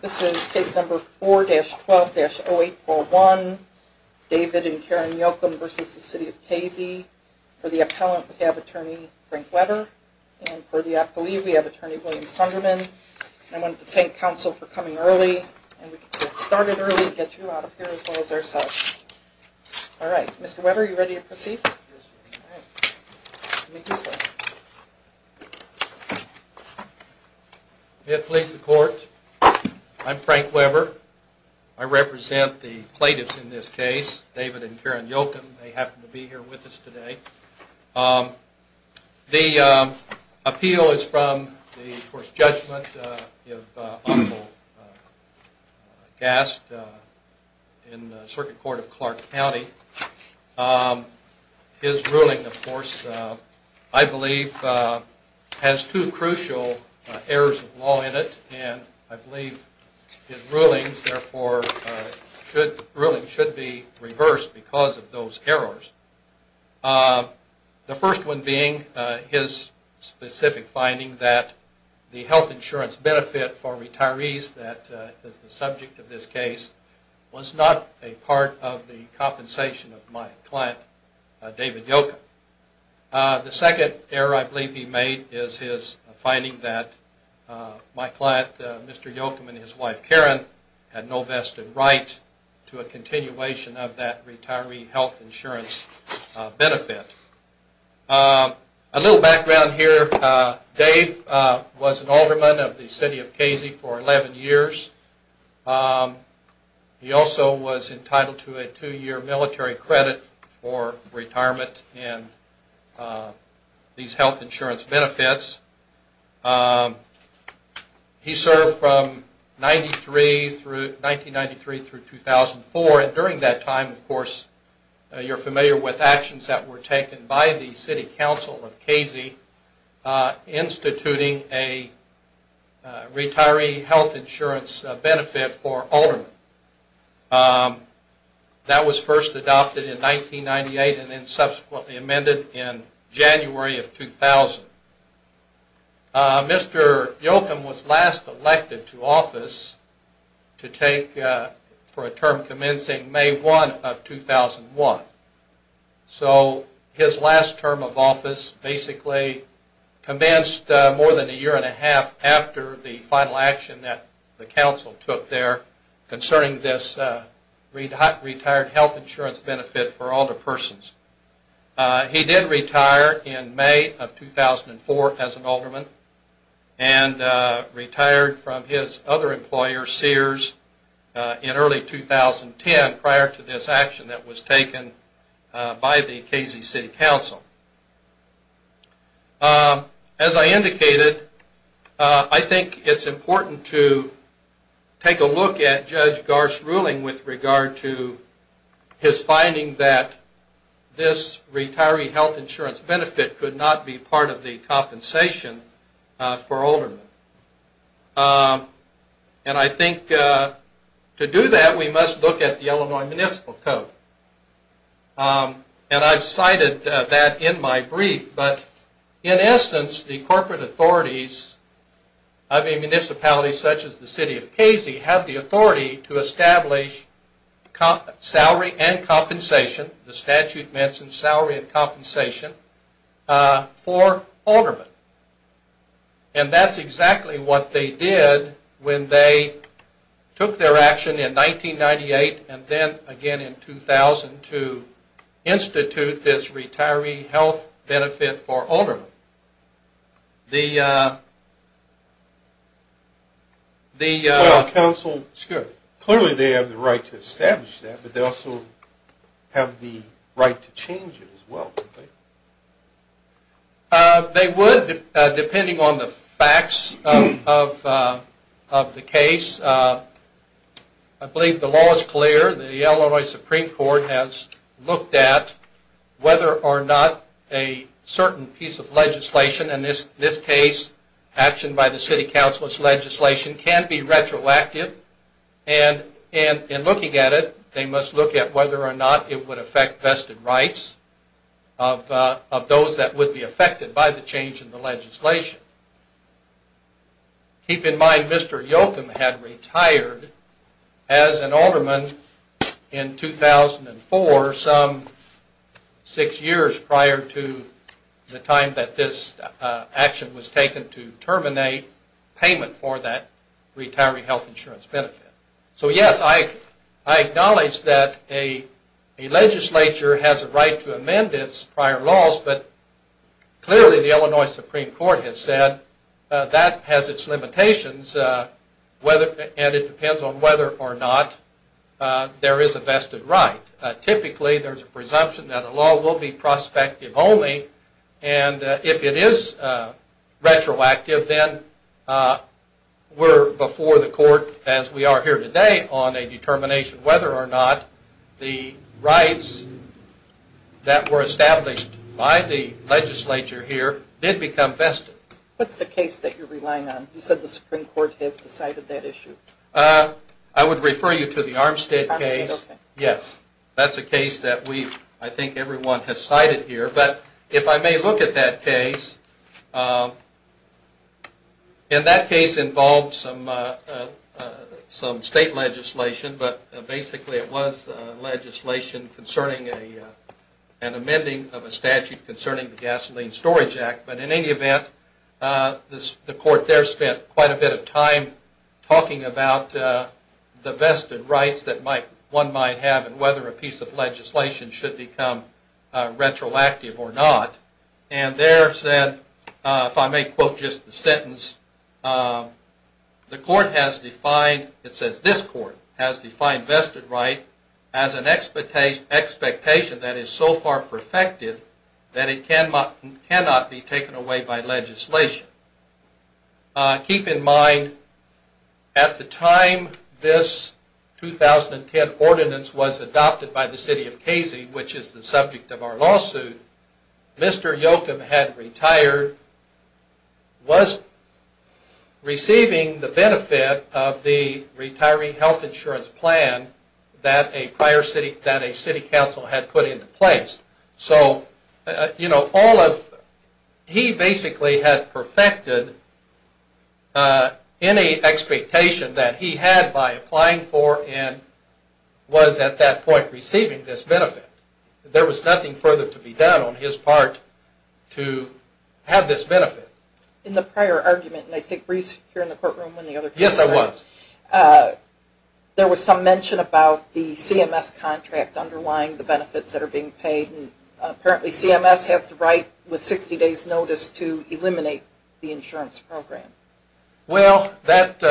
This is case number 4-12-0841, David and Karen Yocom v. City of Casey. For the appellant, we have attorney Frank Weber. And for the appellee, we have attorney William Sunderman. I want to thank counsel for coming early. And we can get started early and get you out of here as well as ourselves. All right. Mr. Weber, are you ready to proceed? Yes, ma'am. All right. Let me do so. May it please the court, I'm Frank Weber. I represent the plaintiffs in this case, David and Karen Yocom. They happen to be here with us today. The appeal is from the court's judgment of Honorable Gast in the Circuit Court of Clark County. His ruling, of course, I believe has two crucial errors of law in it. And I believe his ruling should be reversed because of those errors. The first one being his specific finding that the health insurance benefit for retirees, that is the subject of this case, was not a part of the compensation of my client, David Yocom. The second error I believe he made is his finding that my client, Mr. Yocom, and his wife Karen had no vested right to a continuation of that retiree health insurance benefit. A little background here. Dave was an alderman of the City of Casey for 11 years. He also was entitled to a two-year military credit for retirement in these health insurance benefits. He served from 1993 through 2004, and during that time, of course, you're familiar with actions that were taken by the City Council of Casey instituting a retiree health insurance benefit for aldermen. That was first adopted in 1998 and then subsequently amended in January of 2000. Mr. Yocom was last elected to office to take for a term commencing May 1 of 2001. So his last term of office basically commenced more than a year and a half after the final action that the Council took there concerning this retired health insurance benefit for older persons. He did retire in May of 2004 as an alderman and retired from his other employer, Sears, in early 2010, prior to this action that was taken by the Casey City Council. As I indicated, I think it's important to take a look at Judge Gar's ruling with regard to his finding that this retiree health insurance benefit could not be part of the compensation for aldermen. And I think to do that, we must look at the Illinois Municipal Code. And I've cited that in my brief. But in essence, the corporate authorities of a municipality such as the City of Casey have the authority to establish salary and compensation, the statute mentions salary and compensation, for aldermen. And that's exactly what they did when they took their action in 1998 and then again in 2000 to institute this retiree health benefit for aldermen. The... Well, Council, clearly they have the right to establish that, but they also have the right to change it as well, don't they? They would, depending on the facts of the case. I believe the law is clear. The Illinois Supreme Court has looked at whether or not a certain piece of legislation, in this case action by the City Council's legislation, can be retroactive. And in looking at it, they must look at whether or not it would affect vested rights of those that would be affected by the change in the legislation. Keep in mind Mr. Yochum had retired as an alderman in 2004, some six years prior to the time that this action was taken to terminate payment for that retiree health insurance benefit. So yes, I acknowledge that a legislature has a right to amend its prior laws, but clearly the Illinois Supreme Court has said that has its limitations and it depends on whether or not there is a vested right. Typically, there's a presumption that a law will be prospective only, and if it is retroactive, then we're before the court, as we are here today, on a determination whether or not the rights that were established by the legislature here did become vested. What's the case that you're relying on? You said the Supreme Court has decided that issue. I would refer you to the Armstead case. Yes, that's a case that I think everyone has cited here. But if I may look at that case, and that case involved some state legislation, but basically it was legislation concerning an amending of a statute concerning the Gasoline Storage Act. But in any event, the court there spent quite a bit of time talking about the vested rights that one might have and whether a piece of legislation should become retroactive or not. And there said, if I may quote just the sentence, the court has defined, it says this court has defined vested right as an expectation that is so far perfected that it cannot be taken away by legislation. Keep in mind, at the time this 2010 ordinance was adopted by the city of Casey, which is the subject of our lawsuit, Mr. Yocum had retired, was receiving the benefit of the retiree health insurance plan that a city council had put into place. So, you know, he basically had perfected any expectation that he had by applying for and was at that point receiving this benefit. There was nothing further to be done on his part to have this benefit. In the prior argument, and I think Brie's here in the courtroom when the other cases are. Yes, I was. And apparently CMS has the right with 60 days notice to eliminate the insurance program. Well, that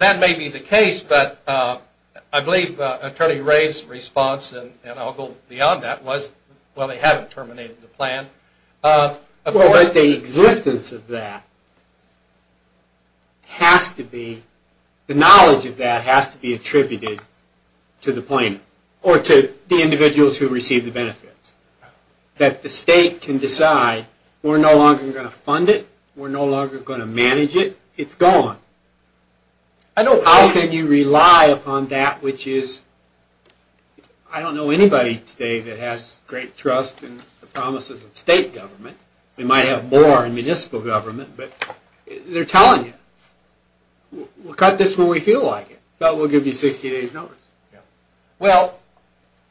may be the case, but I believe Attorney Ray's response, and I'll go beyond that, was, well, they haven't terminated the plan. Of course, the existence of that has to be, the knowledge of that has to be attributed to the plaintiff, or to the individuals who receive the benefits. That the state can decide, we're no longer going to fund it, we're no longer going to manage it, it's gone. How can you rely upon that, which is, I don't know anybody today that has great trust in the promises of state government. We might have more in municipal government, but they're telling you, we'll cut this when we feel like it, but we'll give you 60 days notice. Well,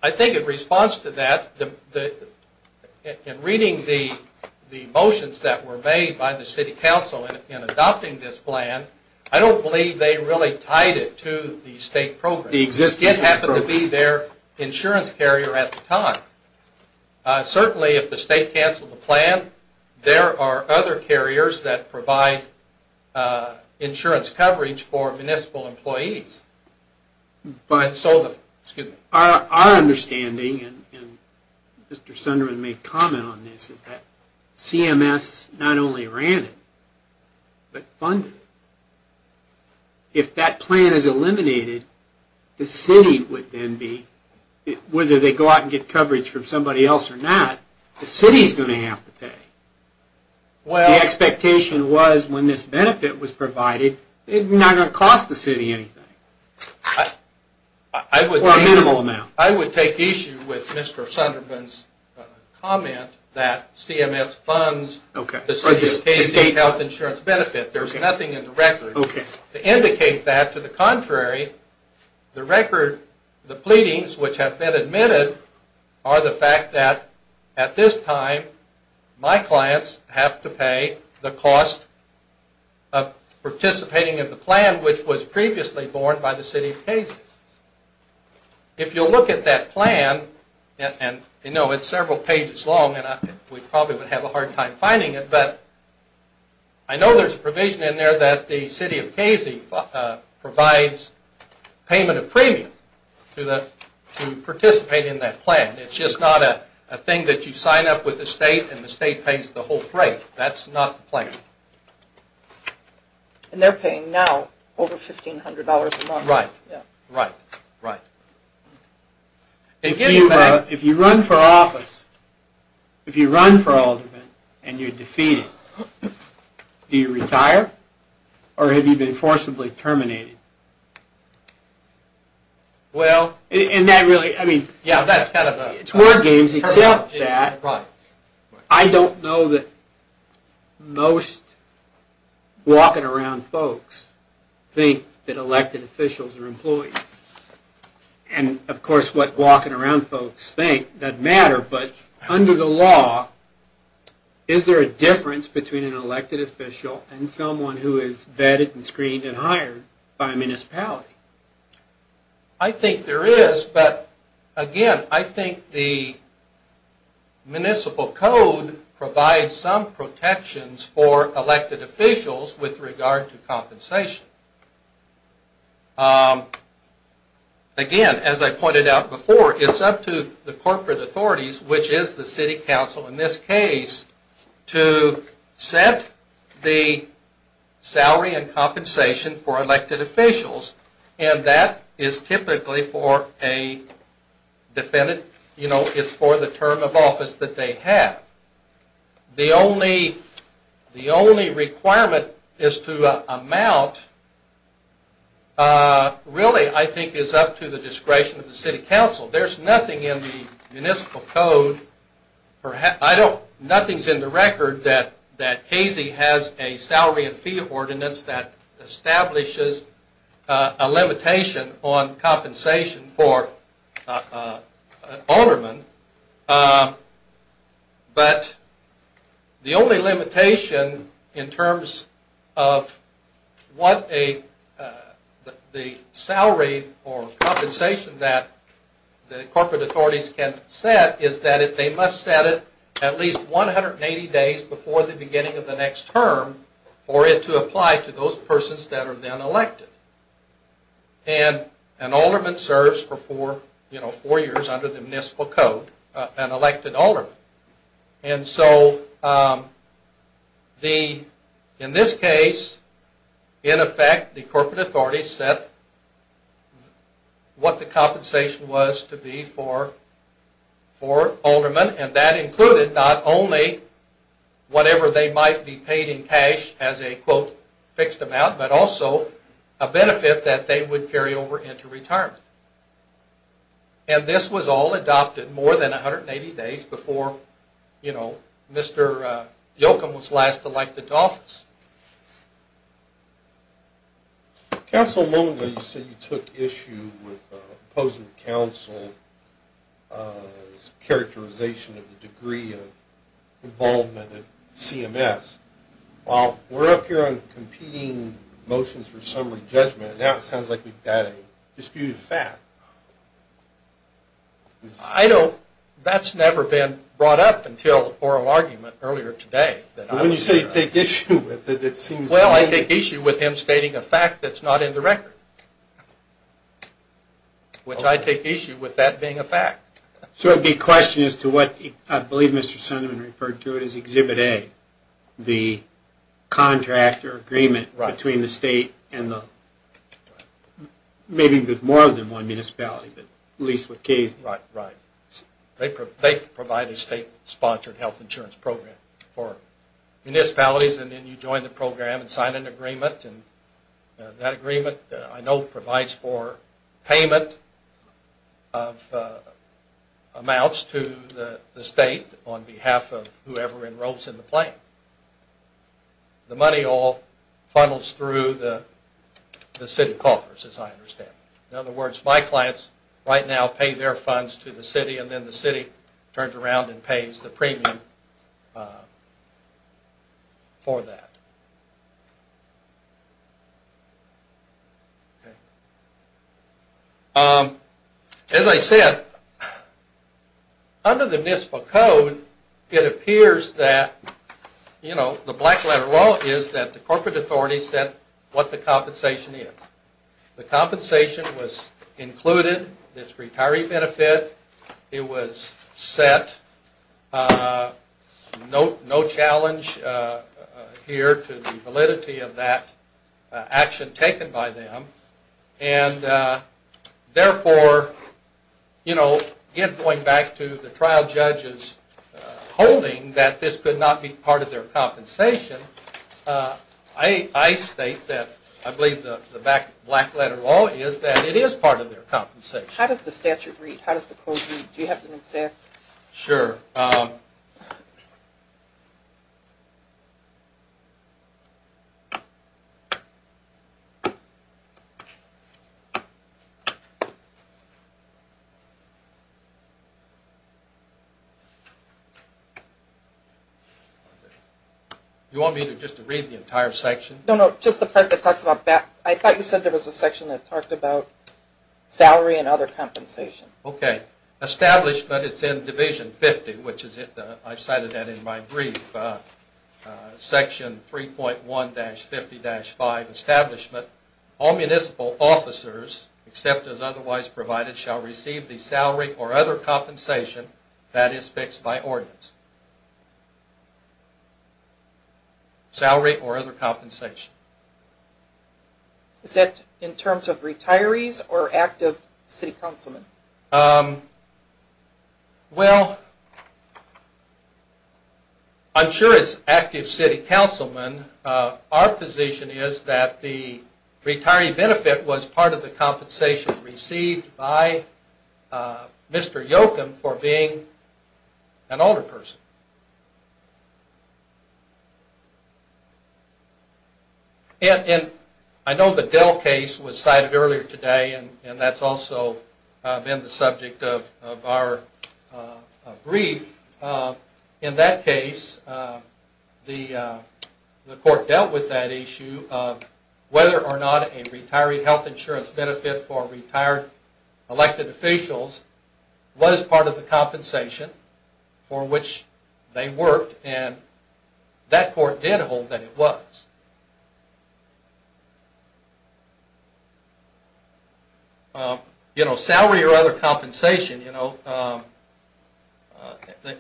I think in response to that, in reading the motions that were made by the city council in adopting this plan, I don't believe they really tied it to the state program. It just happened to be their insurance carrier at the time. Certainly, if the state canceled the plan, there are other carriers that provide insurance coverage for municipal employees. Our understanding, and Mr. Sunderman made comment on this, is that CMS not only ran it, but funded it. If that plan is eliminated, the city would then be, whether they go out and get coverage from somebody else or not, the city is going to have to pay. The expectation was, when this benefit was provided, it's not going to cost the city anything. Or a minimal amount. I would take issue with Mr. Sunderman's comment that CMS funds the state health insurance benefit. There's nothing in the record to indicate that. To the contrary, the record, the pleadings which have been admitted, are the fact that, at this time, my clients have to pay the cost of participating in the plan which was previously borne by the city of Casey. If you look at that plan, it's several pages long, and we probably would have a hard time finding it, but I know there's a provision in there that the city of Casey provides payment of premium to participate in that plan. It's just not a thing that you sign up with the state, and the state pays the whole freight. That's not the plan. And they're paying now over $1,500 a month. Right. If you run for office, if you run for alderman, and you're defeated, do you retire? Or have you been forcibly terminated? It's word games, except that, I don't know that most walking around folks think that elected officials are employees. And, of course, what walking around folks think doesn't matter, but under the law, is there a difference between an elected official and someone who is vetted and screened and hired by a municipality? I think there is, but, again, I think the municipal code provides some protections for elected officials with regard to compensation. Again, as I pointed out before, it's up to the corporate authorities, which is the city council in this case, to set the salary and compensation for elected officials, and that is typically for a defendant. It's for the term of office that they have. The only requirement is to amount, really, I think, is up to the discretion of the city council. There's nothing in the municipal code, nothing's in the record, that Casey has a salary and fee ordinance that establishes a limitation on compensation for an alderman, but the only limitation in terms of what the salary or compensation that the corporate authorities can set is that they must set it at least 180 days before the beginning of the next term for it to apply to those persons that are then elected, and an alderman serves for four years under the municipal code, an elected alderman, and so in this case, in effect, the corporate authorities set what the compensation was to be for aldermen, and that included not only whatever they might be paid in cash as a, quote, fixed amount, but also a benefit that they would carry over into retirement, and this was all adopted more than 180 days before, you know, Mr. Yochum was last elected to office. Council, a moment ago you said you took issue with the opposing council's characterization of the degree of involvement of CMS. While we're up here on competing motions for summary judgment, now it sounds like we've got a disputed fact. I know that's never been brought up until the oral argument earlier today. When you say you take issue with it, it seems... Well, I take issue with him stating a fact that's not in the record, which I take issue with that being a fact. So it would be a question as to what, I believe Mr. Sunderman referred to it as Exhibit A, the contractor agreement between the state and the... Maybe there's more than one municipality, but at least what case... Right, right. They provide a state-sponsored health insurance program for municipalities, and then you join the program and sign an agreement, and that agreement I know provides for payment of amounts to the state on behalf of whoever enrolls in the plan. The money all funnels through the city coffers, as I understand it. In other words, my clients right now pay their funds to the city, and then the city turns around and pays the premium for that. Okay. As I said, under the municipal code, it appears that the black letter law is that the corporate authorities set what the compensation is. The compensation was included, this retiree benefit. It was set. No challenge here to the validity of that action taken by them, and therefore, going back to the trial judges holding that this could not be part of their compensation, I state that I believe the black letter law is that it is part of their compensation. How does the statute read? How does the code read? Do you have an exact... Sure. You want me to just read the entire section? No, no, just the part that talks about... I thought you said there was a section that talked about salary and other compensation. Okay. Establishment. It's in Division 50, which I cited that in my brief. Section 3.1-50-5, Establishment. All municipal officers, except as otherwise provided, shall receive the salary or other compensation that is fixed by ordinance. Salary or other compensation. Is that in terms of retirees or active city councilmen? Well, I'm sure it's active city councilmen. Our position is that the retiree benefit was part of the compensation received by Mr. Yocum for being an older person. And I know the Dell case was cited earlier today, and that's also been the subject of our brief. In that case, the court dealt with that issue of whether or not a retiree health insurance benefit for retired elected officials was part of the compensation for which they worked, and that court did hold that it was. Salary or other compensation.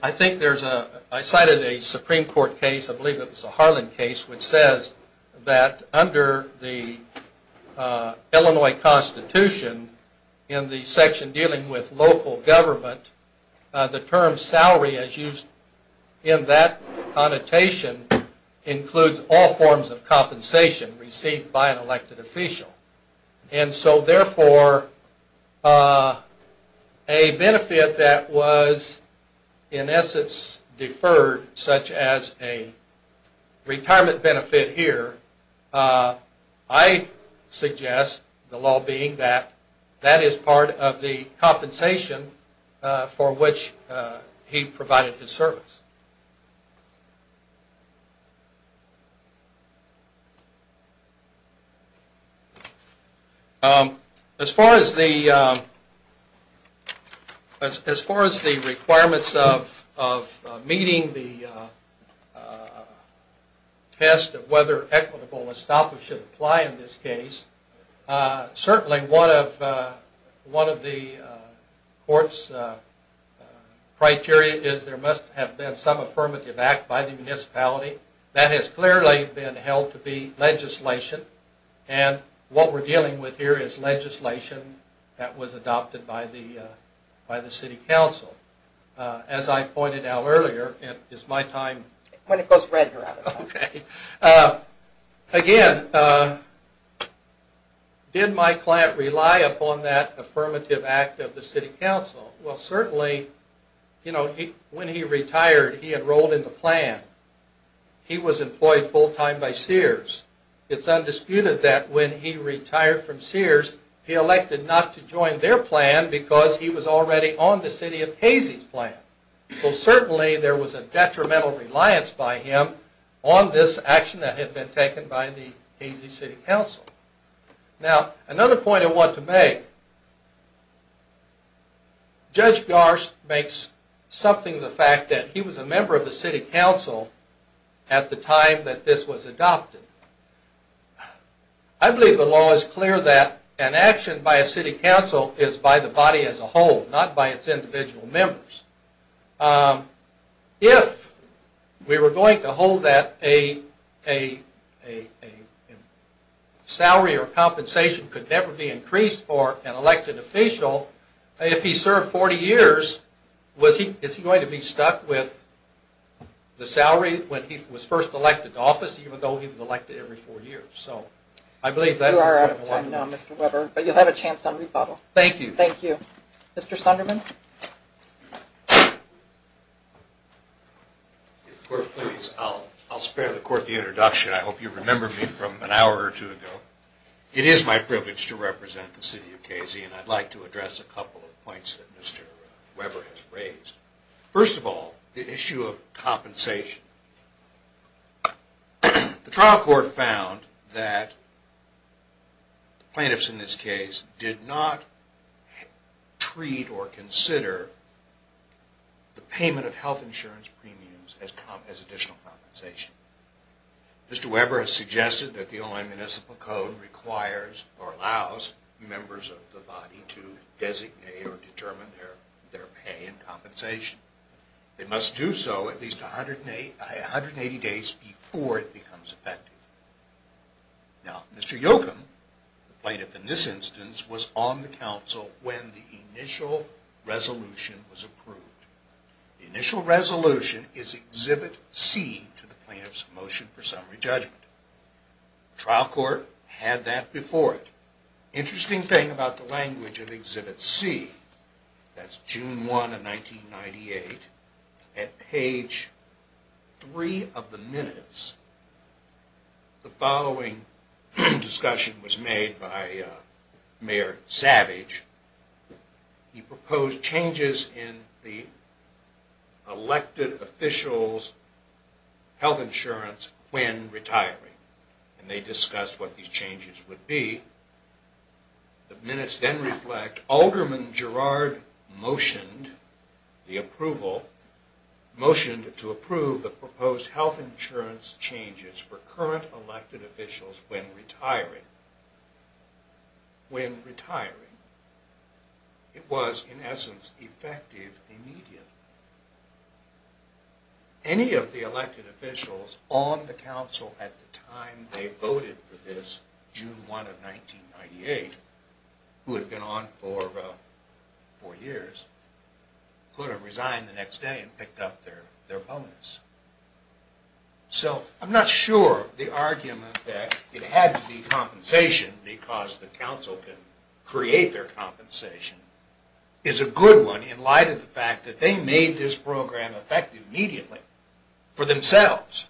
I cited a Supreme Court case, I believe it was a Harlan case, which says that under the Illinois Constitution, in the section dealing with local government, the term salary, as used in that connotation, includes all forms of compensation received by an elected official. And so therefore, a benefit that was in essence deferred, such as a retirement benefit here, I suggest the law being that that is part of the compensation for which he provided his service. As far as the requirements of meeting the test of whether equitable estoppel should apply in this case, certainly one of the court's criteria is there must have been some affirmative act by the municipality. That has clearly been held to be legislation, and what we're dealing with here is legislation that was adopted by the City Council. As I pointed out earlier, it is my time... When it goes red, you're out of time. Okay. Again, did my client rely upon that affirmative act of the City Council? Well, certainly when he retired, he enrolled in the plan. He was employed full-time by Sears. It's undisputed that when he retired from Sears, he elected not to join their plan because he was already on the City of Casey's plan. So certainly there was a detrimental reliance by him on this action that had been taken by the Casey City Council. Now, another point I want to make. Judge Garst makes something of the fact that he was a member of the City Council at the time that this was adopted. I believe the law is clear that an action by a City Council is by the body as a whole, not by its individual members. If we were going to hold that a salary or compensation could never be increased for an elected official, if he served 40 years, is he going to be stuck with the salary when he was first elected to office, even though he was elected every four years? You are out of time now, Mr. Weber, but you'll have a chance on rebuttal. Thank you. Thank you. Mr. Sunderman? I'll spare the court the introduction. I hope you remember me from an hour or two ago. It is my privilege to represent the City of Casey, and I'd like to address a couple of points that Mr. Weber has raised. First of all, the issue of compensation. The trial court found that the plaintiffs in this case did not treat or consider the payment of health insurance premiums as additional compensation. Mr. Weber has suggested that the Online Municipal Code requires or allows members of the body to designate or determine their pay and compensation. They must do so at least 180 days before it becomes effective. Now, Mr. Yochum, the plaintiff in this instance, was on the council when the initial resolution was approved. The initial resolution is Exhibit C to the plaintiff's motion for summary judgment. The trial court had that before it. Interesting thing about the language of Exhibit C, that's June 1 of 1998, at page 3 of the minutes, the following discussion was made by Mayor Savage. He proposed changes in the elected officials' health insurance when retiring, and they discussed what these changes would be. The minutes then reflect, Alderman Gerard motioned the approval, motioned to approve the proposed health insurance changes for current elected officials when retiring. It was, in essence, effective immediately. Any of the elected officials on the council at the time they voted for this, June 1 of 1998, who had been on for four years, could have resigned the next day and picked up their bonus. So, I'm not sure the argument that it had to be compensation because the council can create their compensation, is a good one in light of the fact that they made this program effective immediately for themselves,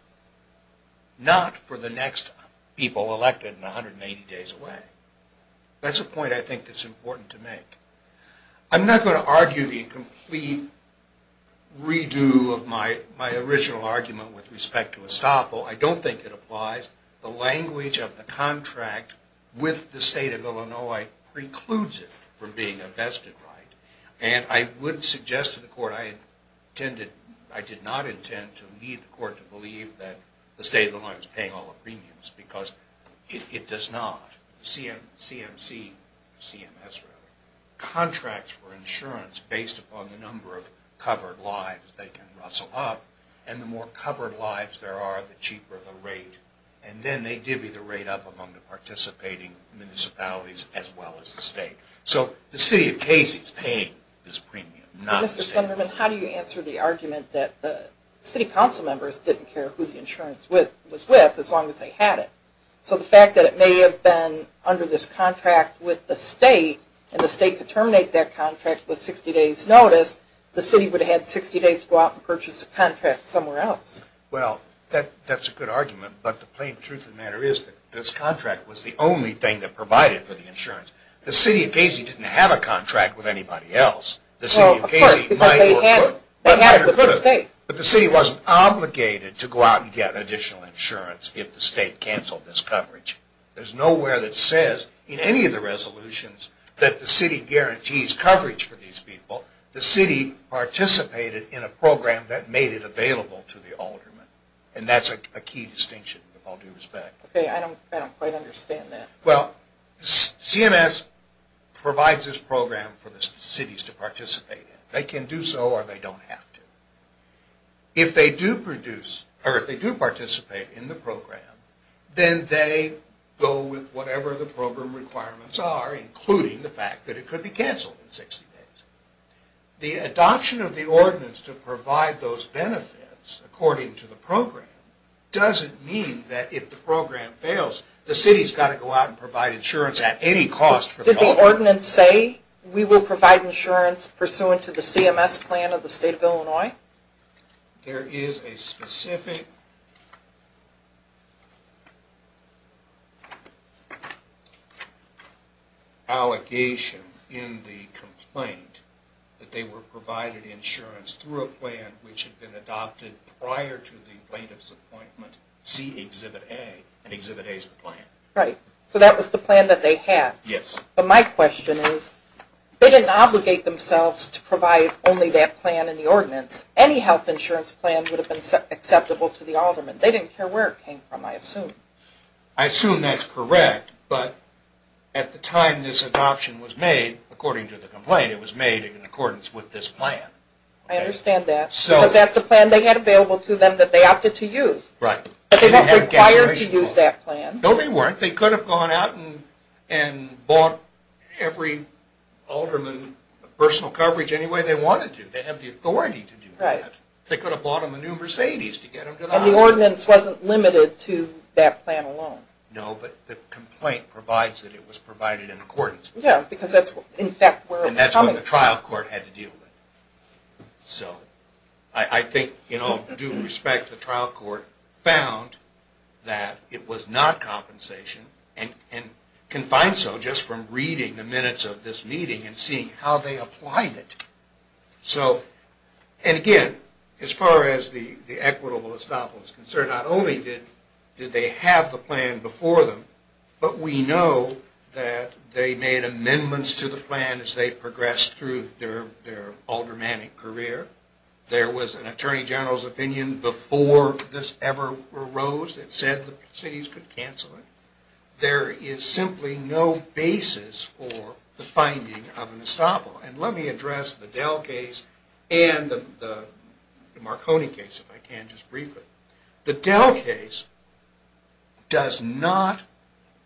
not for the next people elected 180 days away. That's a point I think that's important to make. I'm not going to argue the complete redo of my original argument with respect to Estoppel. I don't think it applies. The language of the contract with the state of Illinois precludes it from being a vested right. And I would suggest to the court, I did not intend to lead the court to believe that the state of Illinois was paying all the premiums because it does not. CMC, CMS rather, contracts for insurance based upon the number of covered lives they can rustle up, and the more covered lives there are, the cheaper the rate. And then they divvy the rate up among the participating municipalities as well as the state. So, the city of Casey is paying this premium, not the state. Mr. Sunderman, how do you answer the argument that the city council members didn't care who the insurance was with as long as they had it? So, the fact that it may have been under this contract with the state, and the state could terminate that contract with 60 days notice, the city would have had 60 days to go out and purchase a contract somewhere else. Well, that's a good argument, but the plain truth of the matter is that this contract was the only thing that provided for the insurance. The city of Casey didn't have a contract with anybody else. Well, of course, because they had it with the state. But the city wasn't obligated to go out and get additional insurance if the state canceled this coverage. There's nowhere that says in any of the resolutions that the city guarantees coverage for these people. The city participated in a program that made it available to the aldermen, and that's a key distinction, with all due respect. Okay, I don't quite understand that. Well, CMS provides this program for the cities to participate in. They can do so or they don't have to. If they do participate in the program, then they go with whatever the program requirements are, including the fact that it could be canceled in 60 days. The adoption of the ordinance to provide those benefits according to the program doesn't mean that if the program fails, the city's got to go out and provide insurance at any cost. Did the ordinance say we will provide insurance pursuant to the CMS plan of the state of Illinois? There is a specific allegation in the complaint that they were provided insurance through a plan which had been adopted prior to the plaintiff's appointment. See Exhibit A. Exhibit A is the plan. Right, so that was the plan that they had. But my question is, they didn't obligate themselves to provide only that plan in the ordinance. Any health insurance plan would have been acceptable to the aldermen. They didn't care where it came from, I assume. I assume that's correct, but at the time this adoption was made, according to the complaint, it was made in accordance with this plan. I understand that. Because that's the plan they had available to them that they opted to use. Right. But they weren't required to use that plan. No, they weren't. They could have gone out and bought every alderman personal coverage any way they wanted to. They have the authority to do that. They could have bought them a new Mercedes to get them to the hospital. And the ordinance wasn't limited to that plan alone. No, but the complaint provides that it was provided in accordance. Yeah, because that's in fact where it was coming from. And that's what the trial court had to deal with. So, I think, in all due respect, the trial court found that it was not compensation and can find so just from reading the minutes of this meeting and seeing how they applied it. So, and again, as far as the equitable estoppel is concerned, not only did they have the plan before them, but we know that they made amendments to the plan as they progressed through their aldermanic career. There was an attorney general's opinion before this ever arose that said the cities could cancel it. There is simply no basis for the finding of an estoppel. And let me address the Dell case and the Marconi case if I can just briefly. The Dell case does not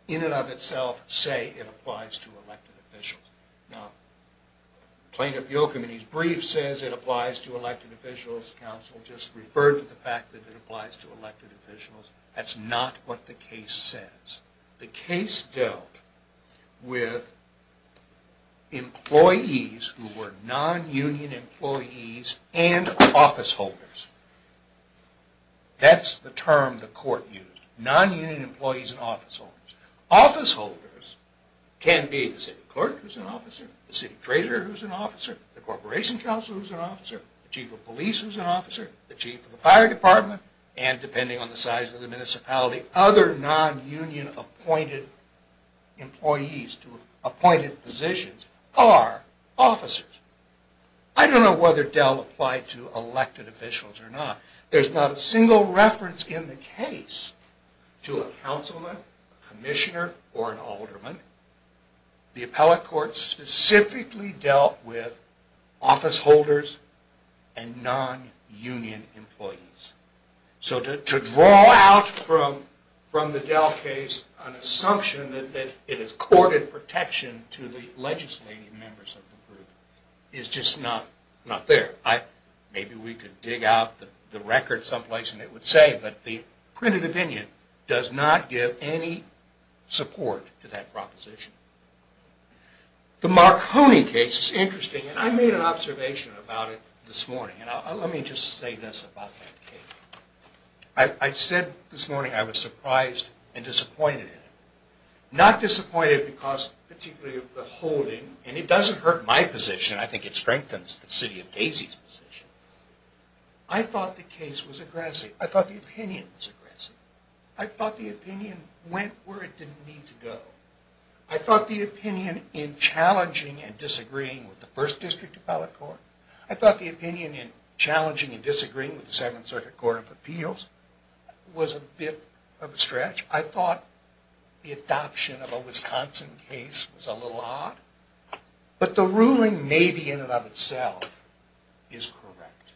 in and of itself say it applies to elected officials. Now, plaintiff Yochum in his brief says it applies to elected officials. Counsel just referred to the fact that it applies to elected officials. That's not what the case says. The case dealt with employees who were non-union employees and office holders. That's the term the court used, non-union employees and office holders. Office holders can be the city clerk who's an officer, the city treasurer who's an officer, the corporation counsel who's an officer, the chief of police who's an officer, the chief of the fire department, and depending on the size of the municipality, other non-union appointed employees to appointed positions are officers. I don't know whether Dell applied to elected officials or not. There's not a single reference in the case to a councilman, commissioner, or an alderman. The appellate court specifically dealt with office holders and non-union employees. So to draw out from the Dell case an assumption that it is courted protection to the legislative members of the group is just not there. Maybe we could dig out the record someplace and it would say that the printed opinion does not give any support to that proposition. The Marconi case is interesting, and I made an observation about it this morning. Let me just say this about that case. I said this morning I was surprised and disappointed in it. Not disappointed because particularly of the holding, and it doesn't hurt my position, I think it strengthens the city of Casey's position, I thought the case was aggressive. I thought the opinion was aggressive. I thought the opinion went where it didn't need to go. I thought the opinion in challenging and disagreeing with the first district appellate court, I thought the opinion in challenging and disagreeing with the Seventh Circuit Court of Appeals was a bit of a stretch. I thought the adoption of a Wisconsin case was a little odd. But the ruling may be in and of itself is correct.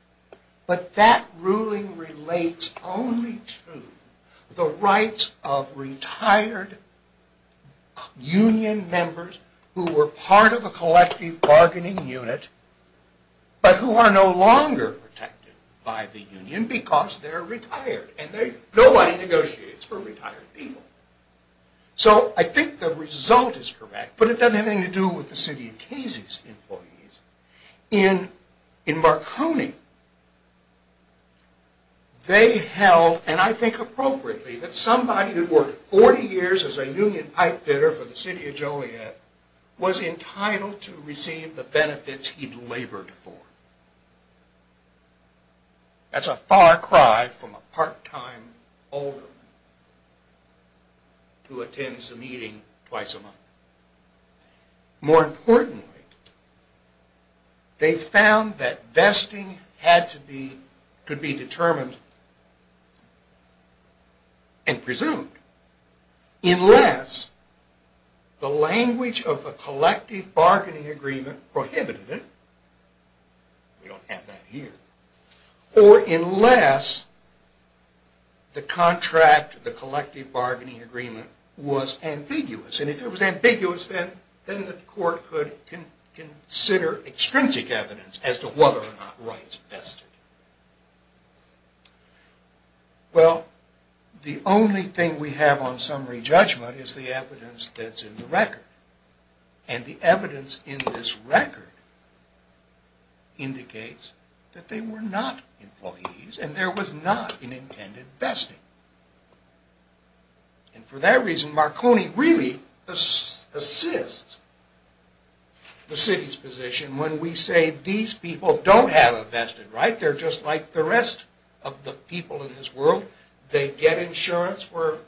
But that ruling relates only to the rights of retired union members who were part of a collective bargaining unit, but who are no longer protected by the union because they're retired. And nobody negotiates for retired people. So I think the result is correct, but it doesn't have anything to do with the city of Casey's employees. In Marconi, they held, and I think appropriately, that somebody who had worked 40 years as a union pipefitter for the city of Joliet was entitled to receive the benefits he'd labored for. That's a far cry from a part-time alderman who attends a meeting twice a month. More importantly, they found that vesting could be determined and presumed unless the language of the collective bargaining agreement prohibited it. We don't have that here. Or unless the contract of the collective bargaining agreement was ambiguous. And if it was ambiguous, then the court could consider extrinsic evidence as to whether or not rights vested. Well, the only thing we have on summary judgment is the evidence that's in the record. And the evidence in this record indicates that they were not employees and there was not an intended vesting. And for that reason, Marconi really assists the city's position when we say these people don't have a vested right. They're just like the rest of the people in this world. They get insurance for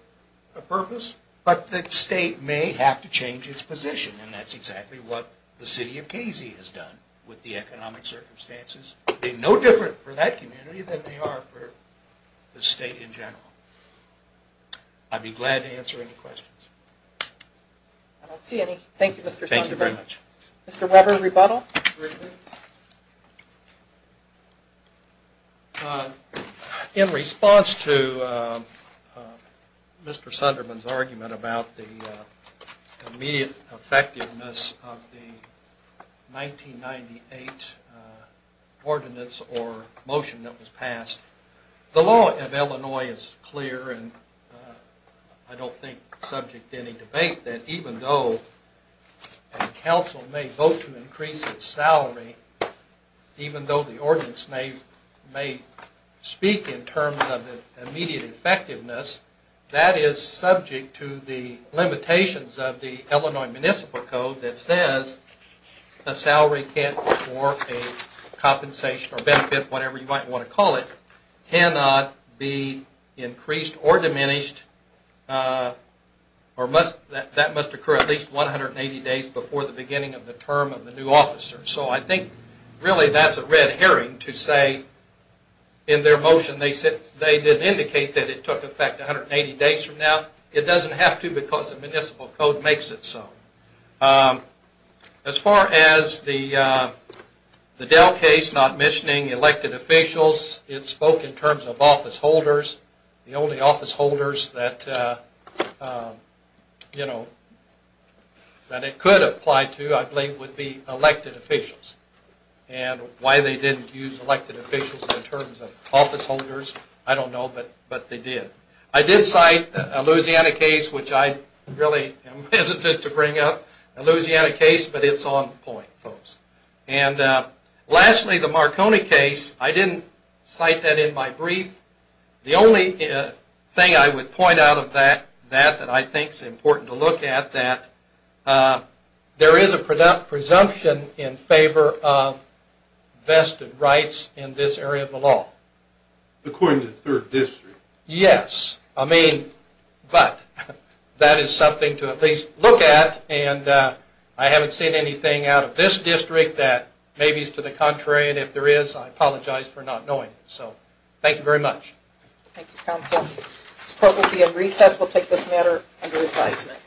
a purpose, but the state may have to change its position. And that's exactly what the city of Casey has done with the economic circumstances. They're no different for that community than they are for the state in general. I'd be glad to answer any questions. I don't see any. Thank you, Mr. Sunderman. Thank you very much. Mr. Weber, rebuttal? In response to Mr. Sunderman's argument about the immediate effectiveness of the 1998 ordinance or motion that was passed, the law of Illinois is clear and I don't think subject to any debate that even though a council may vote to increase its salary, even though the ordinance may speak in terms of immediate effectiveness, that is subject to the limitations of the Illinois Municipal Code that says a salary can't be for a compensation or benefit, whatever you might want to call it, cannot be increased or diminished, or that must occur at least 180 days before the beginning of the term of the new officer. So I think really that's a red herring to say in their motion they did indicate that it took effect 180 days from now. It doesn't have to because the Municipal Code makes it so. As far as the Dell case not mentioning elected officials, it spoke in terms of office holders. The only office holders that it could apply to I believe would be elected officials. And why they didn't use elected officials in terms of office holders, I don't know, but they did. I did cite a Louisiana case, which I really am hesitant to bring up, a Louisiana case, but it's on point, folks. And lastly, the Marconi case, I didn't cite that in my brief. The only thing I would point out of that that I think is important to look at, that there is a presumption in favor of vested rights in this area of the law. According to the 3rd District? Yes, I mean, but that is something to at least look at, and I haven't seen anything out of this district that maybe is to the contrary, and if there is, I apologize for not knowing. So thank you very much. Thank you, Counsel. This court will be in recess. We'll take this matter under advisement.